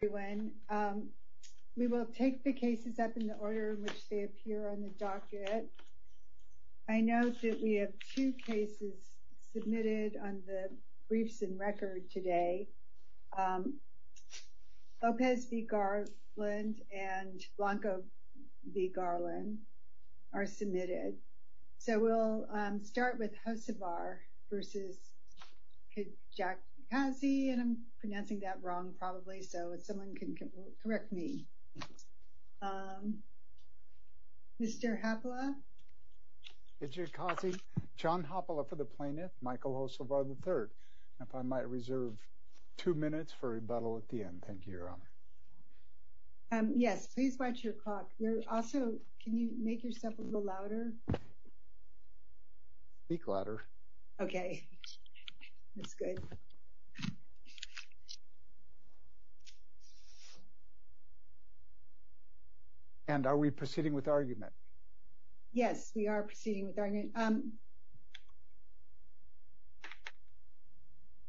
We will take the cases up in the order in which they appear on the docket. I note that we have two cases submitted on the briefs and record today. Lopez v. Garland and Blanco v. Garland are submitted. So we'll start with Hocevar v. Kijakazi. And I'm pronouncing that wrong, probably, so if someone can correct me. Mr. Hopla. Kijakazi. John Hopla for the plaintiff. Michael Hocevar, III. If I might reserve two minutes for rebuttal at the end. Thank you, Your Honor. Yes, please watch your clock. Also, can you make yourself a little louder? Speak louder. Okay. That's good. And are we proceeding with argument? Yes, we are proceeding with argument.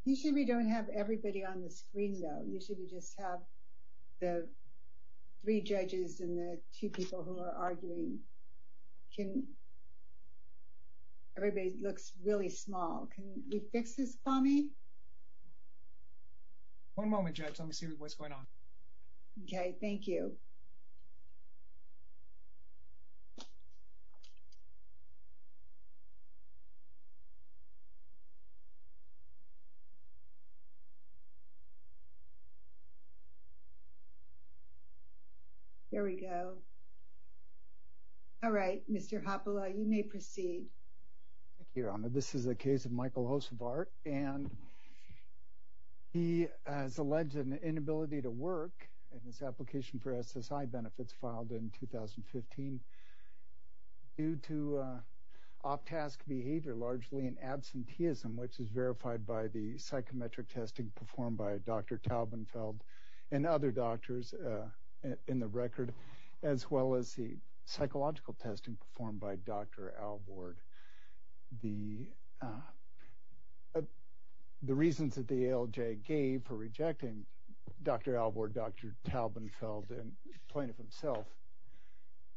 Usually we don't have everybody on the screen, though. Usually we just have the three judges and the two people who are arguing. Everybody looks really small. Can we fix this, Kwame? One moment, Judge. Let me see what's going on. Okay. Thank you. There we go. All right. Mr. Hopla, you may proceed. Thank you, Your Honor. This is a case of Michael Hocevar, and he has alleged an inability to work, and his application for SSI benefits filed in 2015 due to off-task behavior, largely an absenteeism, which is verified by the psychometric testing performed by Dr. Taubenfeld and other doctors in the record, as well as the psychological testing performed by Dr. Albord. The reasons that the ALJ gave for rejecting Dr. Albord, Dr. Taubenfeld, and the plaintiff himself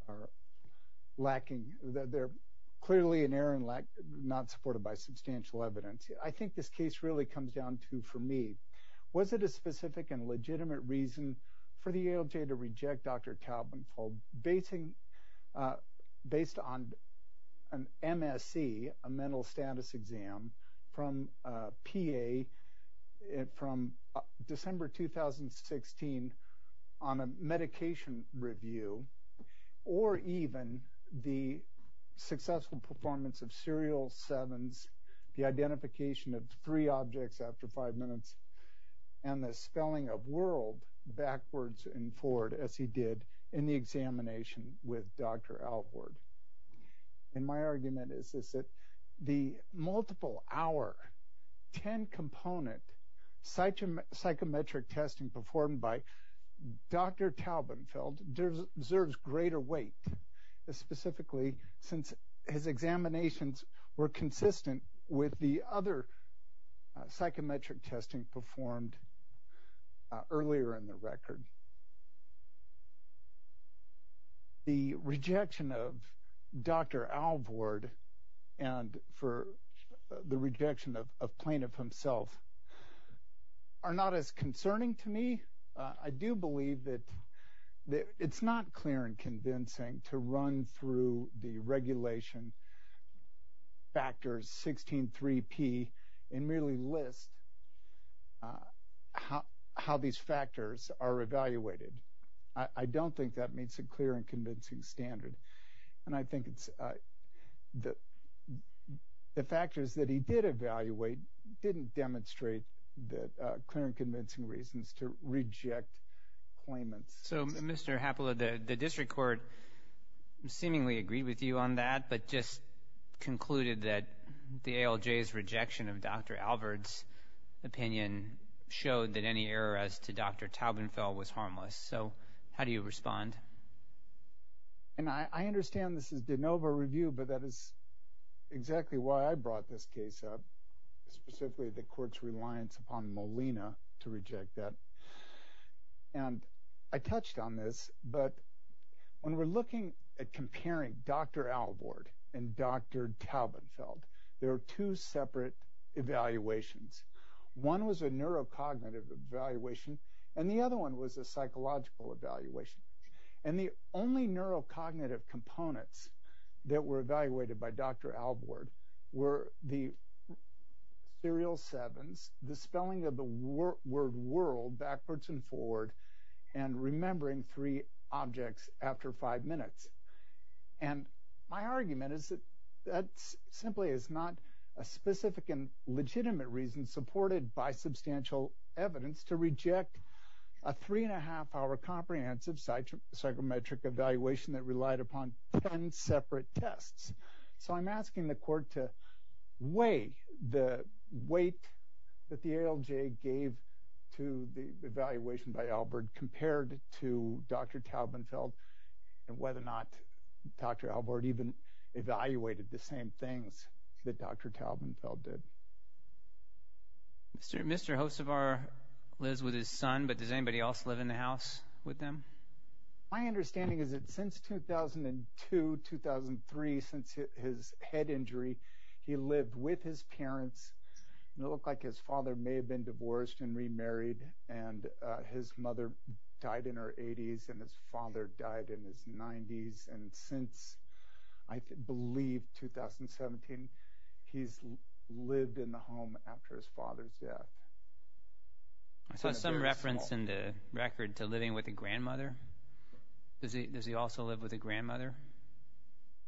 are lacking. They're clearly an error not supported by substantial evidence. I think this case really comes down to, for me, was it a specific and legitimate reason for the ALJ to reject Dr. Taubenfeld based on an MSC, a mental status exam, from PA from December 2016 on a medication review, or even the successful performance of serial sevens, the identification of three objects after five minutes, and the spelling of world backwards and forward as he did in the examination with Dr. Albord. And my argument is this, that the multiple-hour, ten-component psychometric testing performed by Dr. Taubenfeld deserves greater weight, specifically since his examinations were consistent with the other psychometric testing performed earlier in the record. The rejection of Dr. Albord and for the rejection of plaintiff himself are not as concerning to me. I do believe that it's not clear and convincing to run through the regulation factors 16.3p and merely list how these factors are evaluated. I don't think that meets a clear and convincing standard. And I think the factors that he did evaluate didn't demonstrate that clear and convincing reasons to reject claimants. So, Mr. Hapala, the district court seemingly agreed with you on that, but just concluded that the ALJ's rejection of Dr. Albord's opinion showed that any error as to Dr. Taubenfeld was harmless. So, how do you respond? And I understand this is de novo review, but that is exactly why I brought this case up, specifically the court's reliance upon Molina to reject that. And I touched on this, but when we're looking at comparing Dr. Albord and Dr. Taubenfeld, there are two separate evaluations. One was a neurocognitive evaluation and the other one was a psychological evaluation. And the only neurocognitive components that were evaluated by Dr. Albord were the serial sevens, the spelling of the word world backwards and forward, and remembering three objects after five minutes. And my argument is that that simply is not a specific and legitimate reason supported by substantial evidence to reject a three-and-a-half-hour comprehensive psychometric evaluation that relied upon ten separate tests. So I'm asking the court to weigh the weight that the ALJ gave to the evaluation by Albord compared to Dr. Taubenfeld and whether or not Dr. Albord even evaluated the same things that Dr. Taubenfeld did. Mr. Hossevar lives with his son, but does anybody else live in the house with them? My understanding is that since 2002, 2003, since his head injury, he lived with his parents. It looked like his father may have been divorced and remarried, and his mother died in her 80s and his father died in his 90s. And since, I believe, 2017, he's lived in the home after his father's death. I saw some reference in the record to living with a grandmother. Does he also live with a grandmother?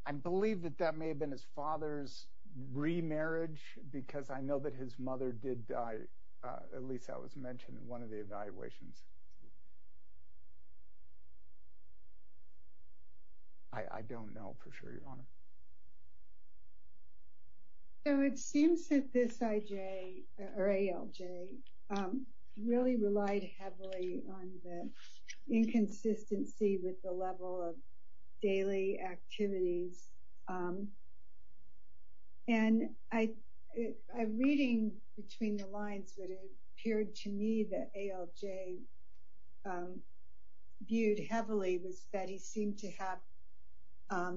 I believe that that may have been his father's remarriage because I know that his mother did die. At least that was mentioned in one of the evaluations. So it seems that this ALJ really relied heavily on the inconsistency with the level of daily activities. And a reading between the lines that it appeared to me that ALJ viewed heavily was that he seemed to have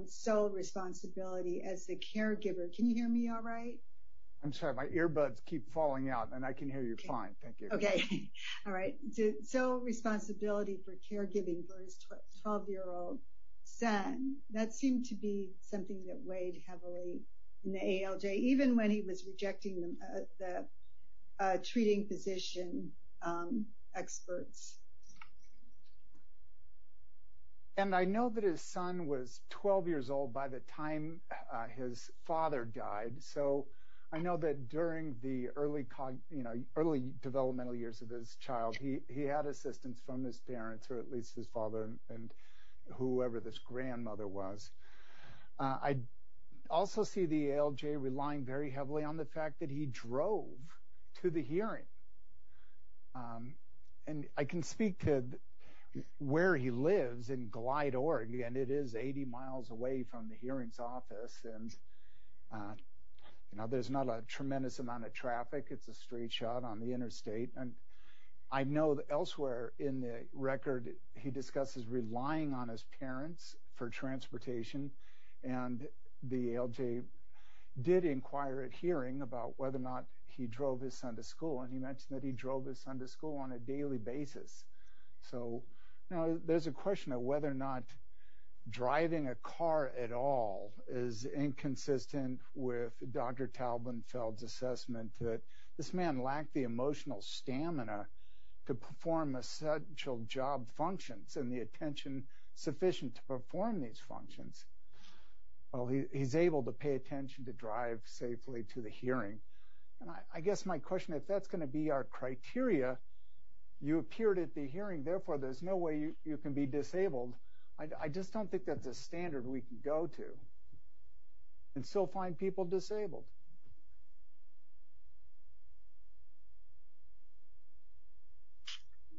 sole responsibility as a caregiver. Can you hear me all right? I'm sorry. My earbuds keep falling out, and I can hear you fine. Thank you. Okay. All right. Sole responsibility for caregiving for his 12-year-old son. That seemed to be something that weighed heavily in the ALJ, even when he was rejecting the treating physician experts. And I know that his son was 12 years old by the time his father died, so I know that during the early developmental years of his child, he had assistance from his parents, or at least his father and whoever this grandmother was. I also see the ALJ relying very heavily on the fact that he drove to the hearing. And I can speak to where he lives in Glide, Oregon, and it is 80 miles away from the hearings office. And there's not a tremendous amount of traffic. It's a straight shot on the interstate. And I know that elsewhere in the record he discusses relying on his parents for transportation, and the ALJ did inquire at hearing about whether or not he drove his son to school, and he mentioned that he drove his son to school on a daily basis. Now, there's a question of whether or not driving a car at all is inconsistent with Dr. Taubenfeld's assessment that this man lacked the emotional stamina to perform essential job functions and the attention sufficient to perform these functions. Well, he's able to pay attention to drive safely to the hearing. And I guess my question, if that's going to be our criteria, you appeared at the hearing, therefore there's no way you can be disabled. I just don't think that's a standard we can go to and still find people disabled.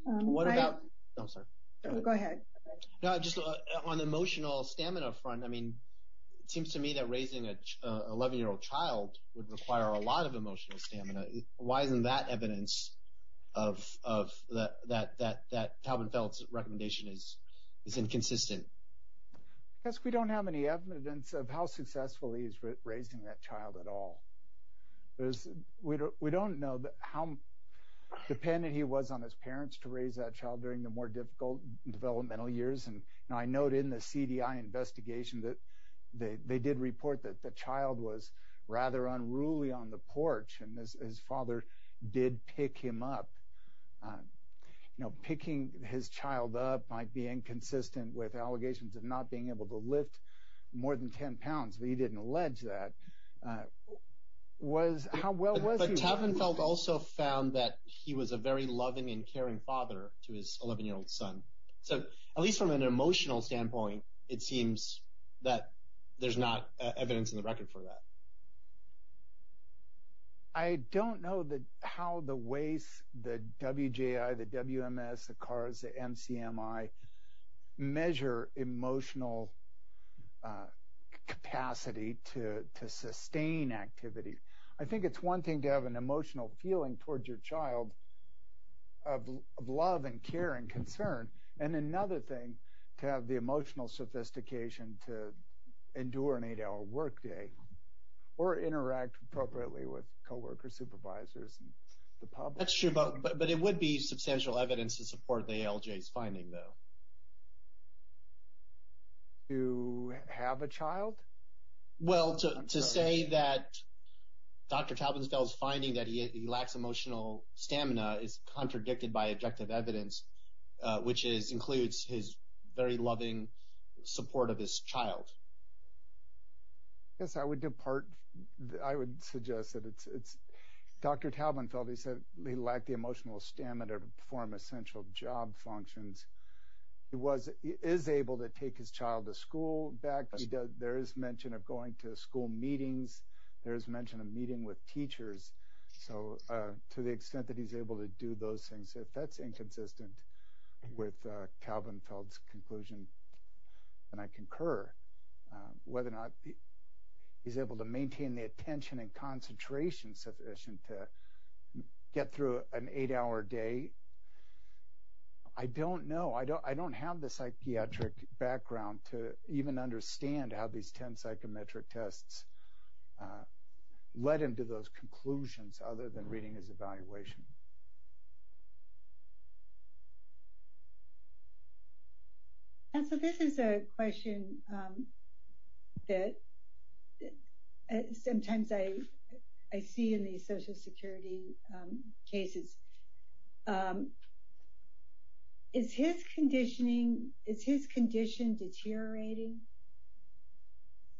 What about—oh, sorry. Go ahead. Just on the emotional stamina front, it seems to me that raising an 11-year-old child would require a lot of emotional stamina. Why isn't that evidence that Taubenfeld's recommendation is inconsistent? I guess we don't have any evidence of how successful he is raising that child at all. We don't know how dependent he was on his parents to raise that child during the more difficult developmental years. And I note in the CDI investigation that they did report that the child was rather unruly on the porch and his father did pick him up. Picking his child up might be inconsistent with allegations of not being able to lift more than 10 pounds, but he didn't allege that. How well was he— Because Taubenfeld also found that he was a very loving and caring father to his 11-year-old son. So at least from an emotional standpoint, it seems that there's not evidence in the record for that. I don't know how the WACE, the WJI, the WMS, the CARS, the MCMI, measure emotional capacity to sustain activity. I think it's one thing to have an emotional feeling towards your child of love and care and concern, and another thing to have the emotional sophistication to endure an eight-hour workday or interact appropriately with co-workers, supervisors, and the public. That's true, but it would be substantial evidence to support the ALJ's finding, though. To have a child? Well, to say that Dr. Taubenfeld's finding that he lacks emotional stamina is contradicted by objective evidence, which includes his very loving support of his child. Yes, I would suggest that it's Dr. Taubenfeld. He said he lacked the emotional stamina to perform essential job functions. He is able to take his child to school. There is mention of going to school meetings. There is mention of meeting with teachers. So to the extent that he's able to do those things, if that's inconsistent with Taubenfeld's conclusion, then I concur whether or not he's able to maintain the attention and concentration sufficient to get through an eight-hour day. I don't know. I don't have the psychiatric background to even understand how these 10 psychometric tests led him to those conclusions other than reading his evaluation. This is a question that sometimes I see in the social security cases. Is his condition deteriorating?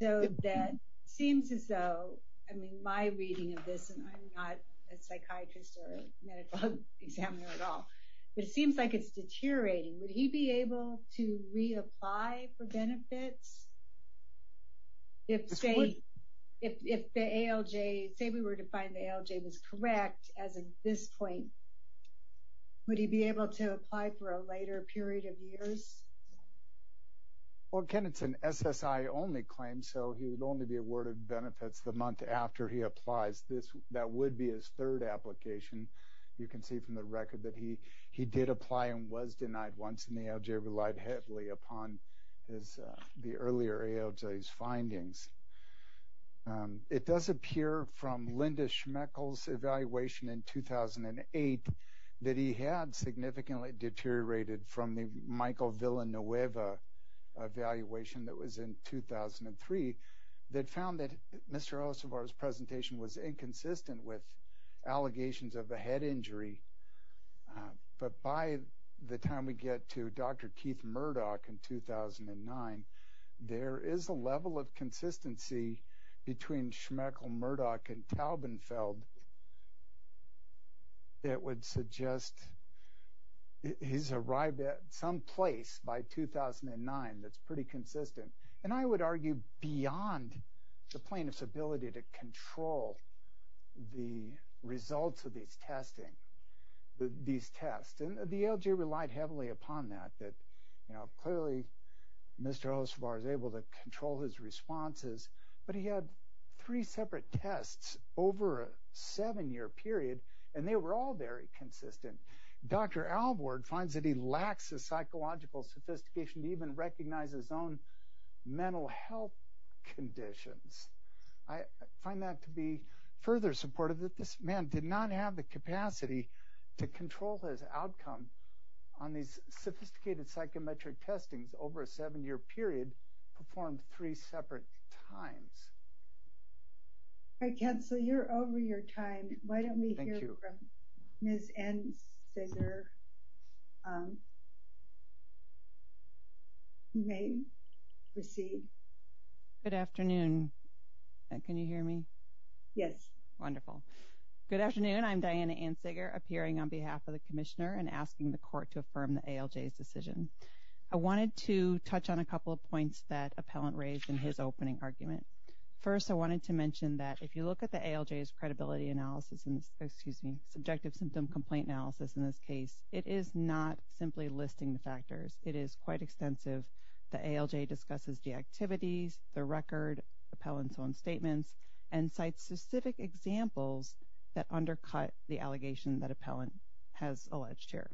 It seems as though, I mean my reading of this, and I'm not a psychiatrist or medical examiner at all, but it seems like it's deteriorating. Would he be able to reapply for benefits? If the ALJ, say we were to find the ALJ was correct as of this point, would he be able to apply for a later period of years? Well, Ken, it's an SSI-only claim, so he would only be awarded benefits the month after he applies. That would be his third application. You can see from the record that he did apply and was denied once, and the ALJ relied heavily upon the earlier ALJ's findings. It does appear from Linda Schmechel's evaluation in 2008 that he had significantly deteriorated from the Michael Villanueva evaluation that was in 2003 that found that Mr. Alcivar's presentation was inconsistent with allegations of a head injury. But by the time we get to Dr. Keith Murdoch in 2009, there is a level of consistency between Schmechel, Murdoch, and Taubenfeld that would suggest he's arrived at some place by 2009 that's pretty consistent. And I would argue beyond the plaintiff's ability to control the results of these tests. The ALJ relied heavily upon that. Clearly, Mr. Alcivar was able to control his responses, but he had three separate tests over a seven-year period, and they were all very consistent. Dr. Alward finds that he lacks the psychological sophistication to even recognize his own mental health conditions. I find that to be further supportive that this man did not have the capacity to control his outcome on these sophisticated psychometric testings over a seven-year period performed three separate times. All right, Counselor, you're over your time. Why don't we hear from Ms. Ansiger? You may proceed. Good afternoon. Can you hear me? Yes. Wonderful. Good afternoon. I'm Diana Ansiger, appearing on behalf of the Commissioner and asking the Court to affirm the ALJ's decision. I wanted to touch on a couple of points that Appellant raised in his opening argument. First, I wanted to mention that if you look at the ALJ's credibility analysis, excuse me, subjective symptom complaint analysis in this case, it is not simply listing the factors. It is quite extensive. The ALJ discusses the activities, the record, Appellant's own statements, and cites specific examples that undercut the allegation that Appellant has alleged here.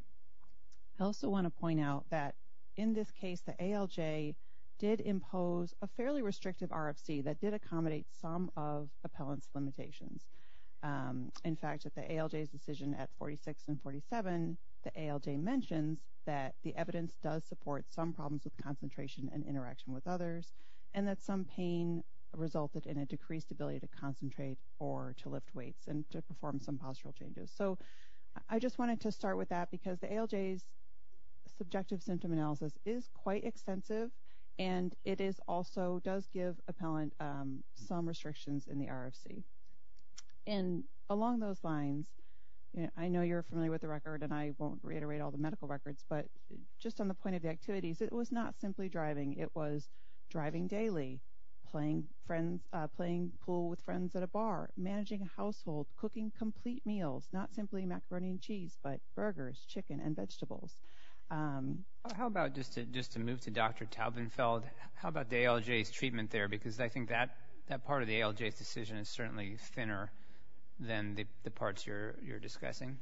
I also want to point out that in this case the ALJ did impose a fairly restrictive RFC that did accommodate some of Appellant's limitations. In fact, at the ALJ's decision at 46 and 47, the ALJ mentions that the evidence does support some problems with concentration and interaction with others, and that some pain resulted in a decreased ability to concentrate or to lift weights and to perform some postural changes. So I just wanted to start with that, because the ALJ's subjective symptom analysis is quite extensive, and it also does give Appellant some restrictions in the RFC. And along those lines, I know you're familiar with the record, and I won't reiterate all the medical records, but just on the point of the activities, it was not simply driving. It was driving daily, playing pool with friends at a bar, managing a household, cooking complete meals, not simply macaroni and cheese, but burgers, chicken, and vegetables. How about, just to move to Dr. Taubenfeld, how about the ALJ's treatment there? Because I think that part of the ALJ's decision is certainly thinner than the parts you're discussing.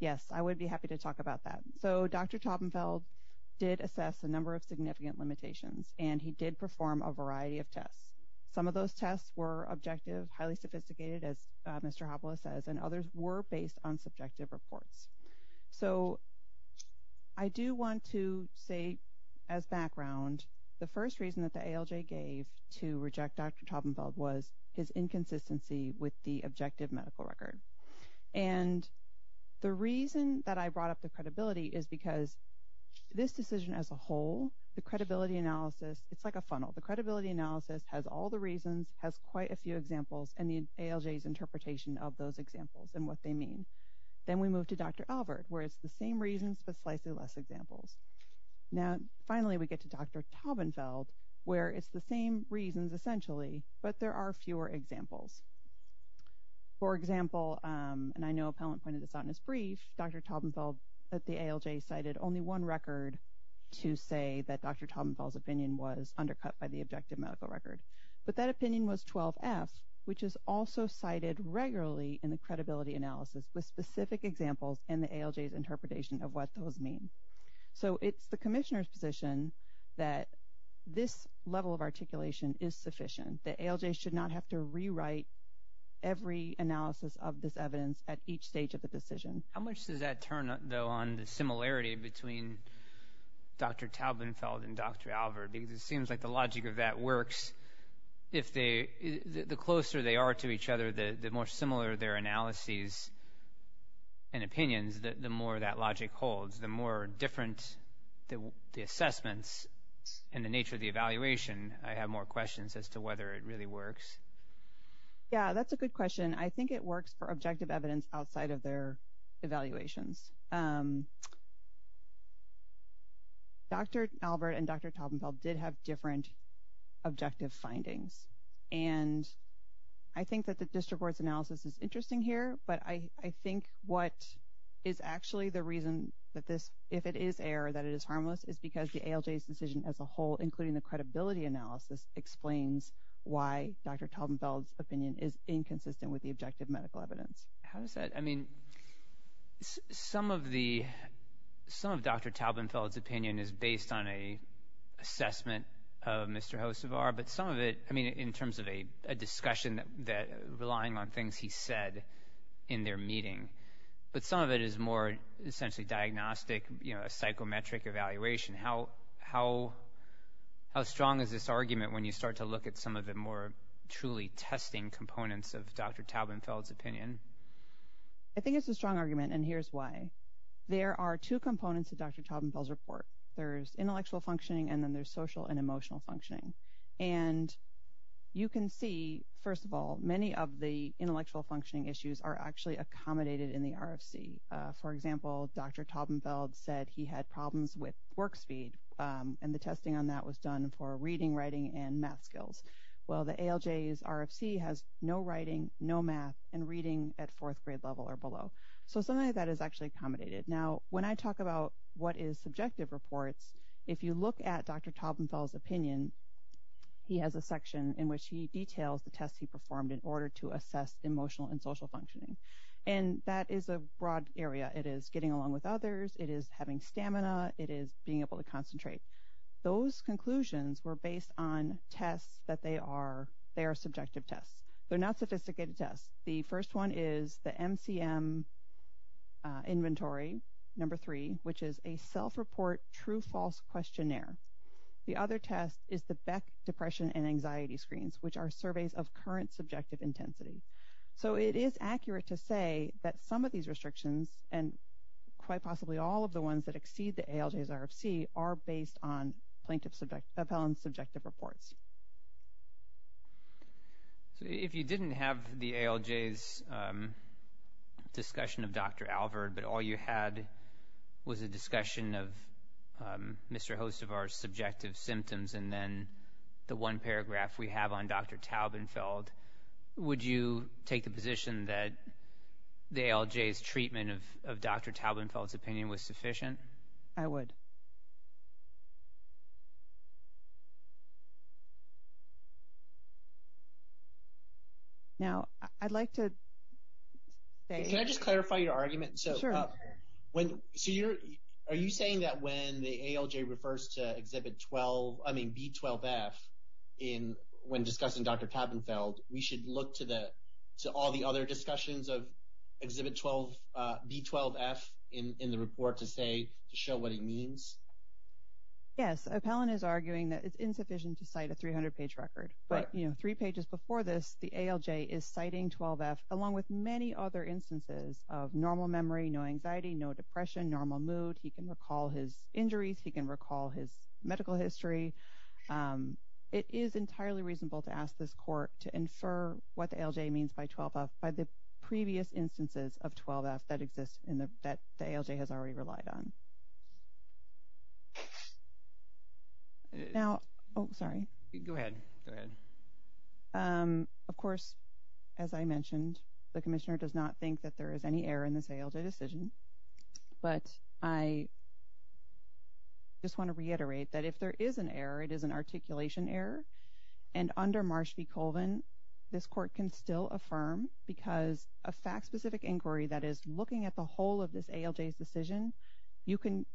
Yes, I would be happy to talk about that. So Dr. Taubenfeld did assess a number of significant limitations, and he did perform a variety of tests. Some of those tests were objective, highly sophisticated, as Mr. Hopla says, and others were based on subjective reports. So I do want to say as background, the first reason that the ALJ gave to reject Dr. Taubenfeld was his inconsistency with the objective medical record. And the reason that I brought up the credibility is because this decision as a whole, the credibility analysis, it's like a funnel. The credibility analysis has all the reasons, has quite a few examples, and the ALJ's interpretation of those examples and what they mean. Then we move to Dr. Alvord, where it's the same reasons but slightly less examples. Now, finally, we get to Dr. Taubenfeld, where it's the same reasons essentially, but there are fewer examples. For example, and I know a panelist pointed this out in his brief, Dr. Taubenfeld at the ALJ cited only one record to say that Dr. Taubenfeld's opinion was undercut by the objective medical record. But that opinion was 12F, which is also cited regularly in the credibility analysis with specific examples in the ALJ's interpretation of what those mean. So it's the commissioner's position that this level of articulation is sufficient, that ALJ should not have to rewrite every analysis of this evidence at each stage of the decision. How much does that turn, though, on the similarity between Dr. Taubenfeld and Dr. Alvord? Because it seems like the logic of that works if the closer they are to each other, the more similar their analyses and opinions, the more that logic holds. The more different the assessments and the nature of the evaluation, I have more questions as to whether it really works. Yeah, that's a good question. I think it works for objective evidence outside of their evaluations. Dr. Alvord and Dr. Taubenfeld did have different objective findings. And I think that the district board's analysis is interesting here, but I think what is actually the reason that this, if it is error, that it is harmless, is because the ALJ's decision as a whole, including the credibility analysis, explains why Dr. Taubenfeld's opinion is inconsistent with the objective medical evidence. How does that? I mean, some of Dr. Taubenfeld's opinion is based on an assessment of Mr. Josevar, but some of it, I mean, in terms of a discussion relying on things he said in their meeting, but some of it is more essentially diagnostic, you know, a psychometric evaluation. How strong is this argument when you start to look at some of the more truly testing components of Dr. Taubenfeld's opinion? I think it's a strong argument, and here's why. There are two components to Dr. Taubenfeld's report. There's intellectual functioning, and then there's social and emotional functioning. And you can see, first of all, many of the intellectual functioning issues are actually accommodated in the RFC. For example, Dr. Taubenfeld said he had problems with work speed, and the testing on that was done for reading, writing, and math skills. Well, the ALJ's RFC has no writing, no math, and reading at fourth grade level or below. So some of that is actually accommodated. Now, when I talk about what is subjective reports, if you look at Dr. Taubenfeld's opinion, he has a section in which he details the tests he performed in order to assess emotional and social functioning. And that is a broad area. It is getting along with others. It is having stamina. It is being able to concentrate. Those conclusions were based on tests that they are subjective tests. They're not sophisticated tests. The first one is the MCM inventory, number three, which is a self-report true-false questionnaire. The other test is the Beck depression and anxiety screens, which are surveys of current subjective intensity. So it is accurate to say that some of these restrictions, and quite possibly all of the ones that exceed the ALJ's RFC, are based on plaintiff-appellant subjective reports. So if you didn't have the ALJ's discussion of Dr. Alvord, but all you had was a discussion of Mr. Hostevar's subjective symptoms and then the one paragraph we have on Dr. Taubenfeld, would you take the position that the ALJ's treatment of Dr. Taubenfeld's opinion was sufficient? I would. Now, I'd like to say… Can I just clarify your argument? Sure. Are you saying that when the ALJ refers to Exhibit B12F when discussing Dr. Taubenfeld, we should look to all the other discussions of Exhibit B12F in the report to show what it means? Yes. Appellant is arguing that it's insufficient to cite a 300-page record. But three pages before this, the ALJ is citing 12F, along with many other instances of normal memory, no anxiety, no depression, normal mood. He can recall his injuries. He can recall his medical history. It is entirely reasonable to ask this court to infer what the ALJ means by 12F by the previous instances of 12F that the ALJ has already relied on. Now… Oh, sorry. Go ahead. Go ahead. Of course, as I mentioned, the Commissioner does not think that there is any error in this ALJ decision. But I just want to reiterate that if there is an error, it is an articulation error. And under Marsh v. Colvin, this court can still affirm, because a fact-specific inquiry that is looking at the whole of this ALJ's decision, you can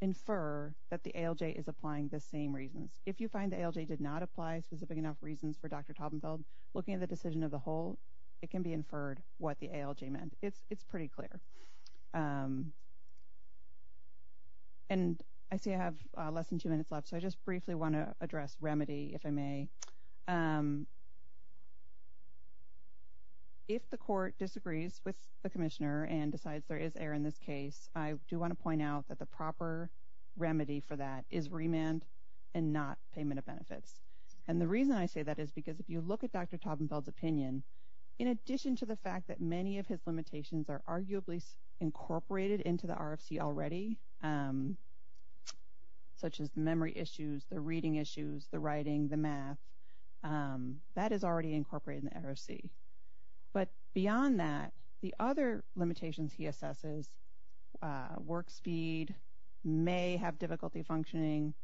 infer that the ALJ is applying the same reasons. If you find the ALJ did not apply specific enough reasons for Dr. Taubenfeld looking at the decision of the whole, it can be inferred what the ALJ meant. It's pretty clear. And I see I have less than two minutes left, so I just briefly want to address remedy, if I may. If the court disagrees with the Commissioner and decides there is error in this case, I do want to point out that the proper remedy for that is remand and not payment of benefits. And the reason I say that is because if you look at Dr. Taubenfeld's opinion, in addition to the fact that many of his limitations are arguably incorporated into the RFC already, such as memory issues, the reading issues, the writing, the math, that is already incorporated in the RFC. But beyond that, the other limitations he assesses, work speed, may have difficulty functioning,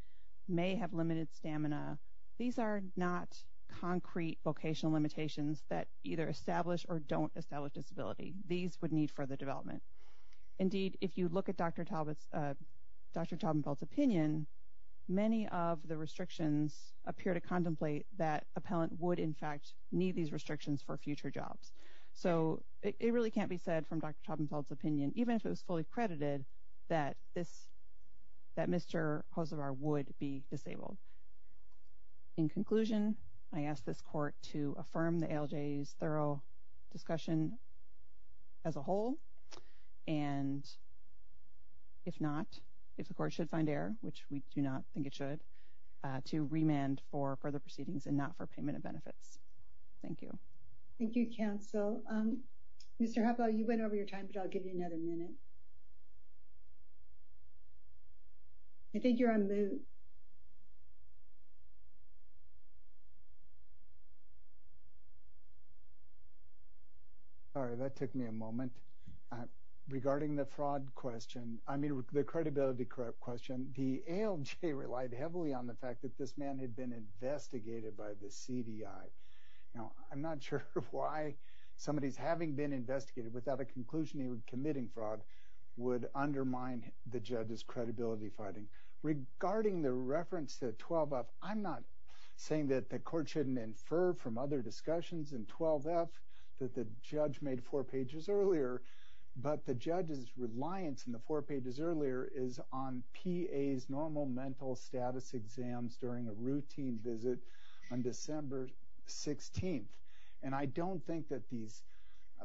may have limited stamina, these are not concrete vocational limitations that either establish or don't establish disability. These would need further development. Indeed, if you look at Dr. Taubenfeld's opinion, many of the restrictions appear to contemplate that appellant would, in fact, need these restrictions for future jobs. So it really can't be said from Dr. Taubenfeld's opinion, even if it was fully credited, that Mr. Josevar would be disabled. In conclusion, I ask this court to affirm the ALJ's thorough discussion as a whole, and if not, if the court should find error, which we do not think it should, to remand for further proceedings and not for payment of benefits. Thank you. Thank you, counsel. Mr. Hubbell, you went over your time, but I'll give you another minute. I think you're on mute. Sorry, that took me a moment. Regarding the fraud question, I mean the credibility question, the ALJ relied heavily on the fact that this man had been investigated by the CDI. Now, I'm not sure why somebody's having been investigated without a conclusion he was committing fraud would undermine the judge's credibility finding. Regarding the reference to 12-F, I'm not saying that the court shouldn't infer from other discussions in 12-F that the judge made four pages earlier, but the judge's reliance on the four pages earlier is on PA's normal mental status exams during a routine visit on December 16th. And I don't think that these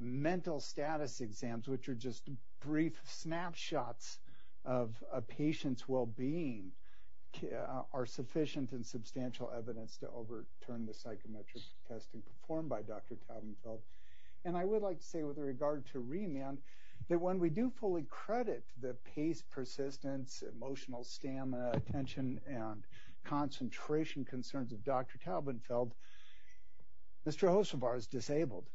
mental status exams, which are just brief snapshots of a patient's well-being, are sufficient and substantial evidence to overturn the psychometric testing performed by Dr. Taubenfeld. And I would like to say with regard to remand that when we do fully credit the pace, persistence, emotional stamina, attention, and concentration concerns of Dr. Taubenfeld, Mr. Hosovar is disabled.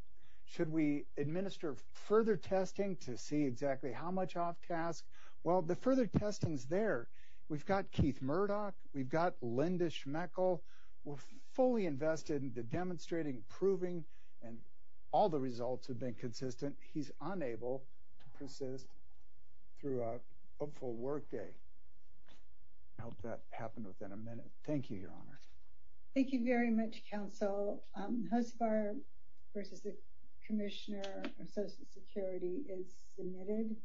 Should we administer further testing to see exactly how much off-task? Well, the further testing's there. We've got Keith Murdoch. We've got Linda Schmechel. We're fully invested in the demonstrating, proving, and all the results have been consistent. He's unable to persist throughout a full workday. I hope that happened within a minute. Thank you, Your Honor. Thank you very much, Counsel. So Hosovar versus the commissioner of Social Security is submitted.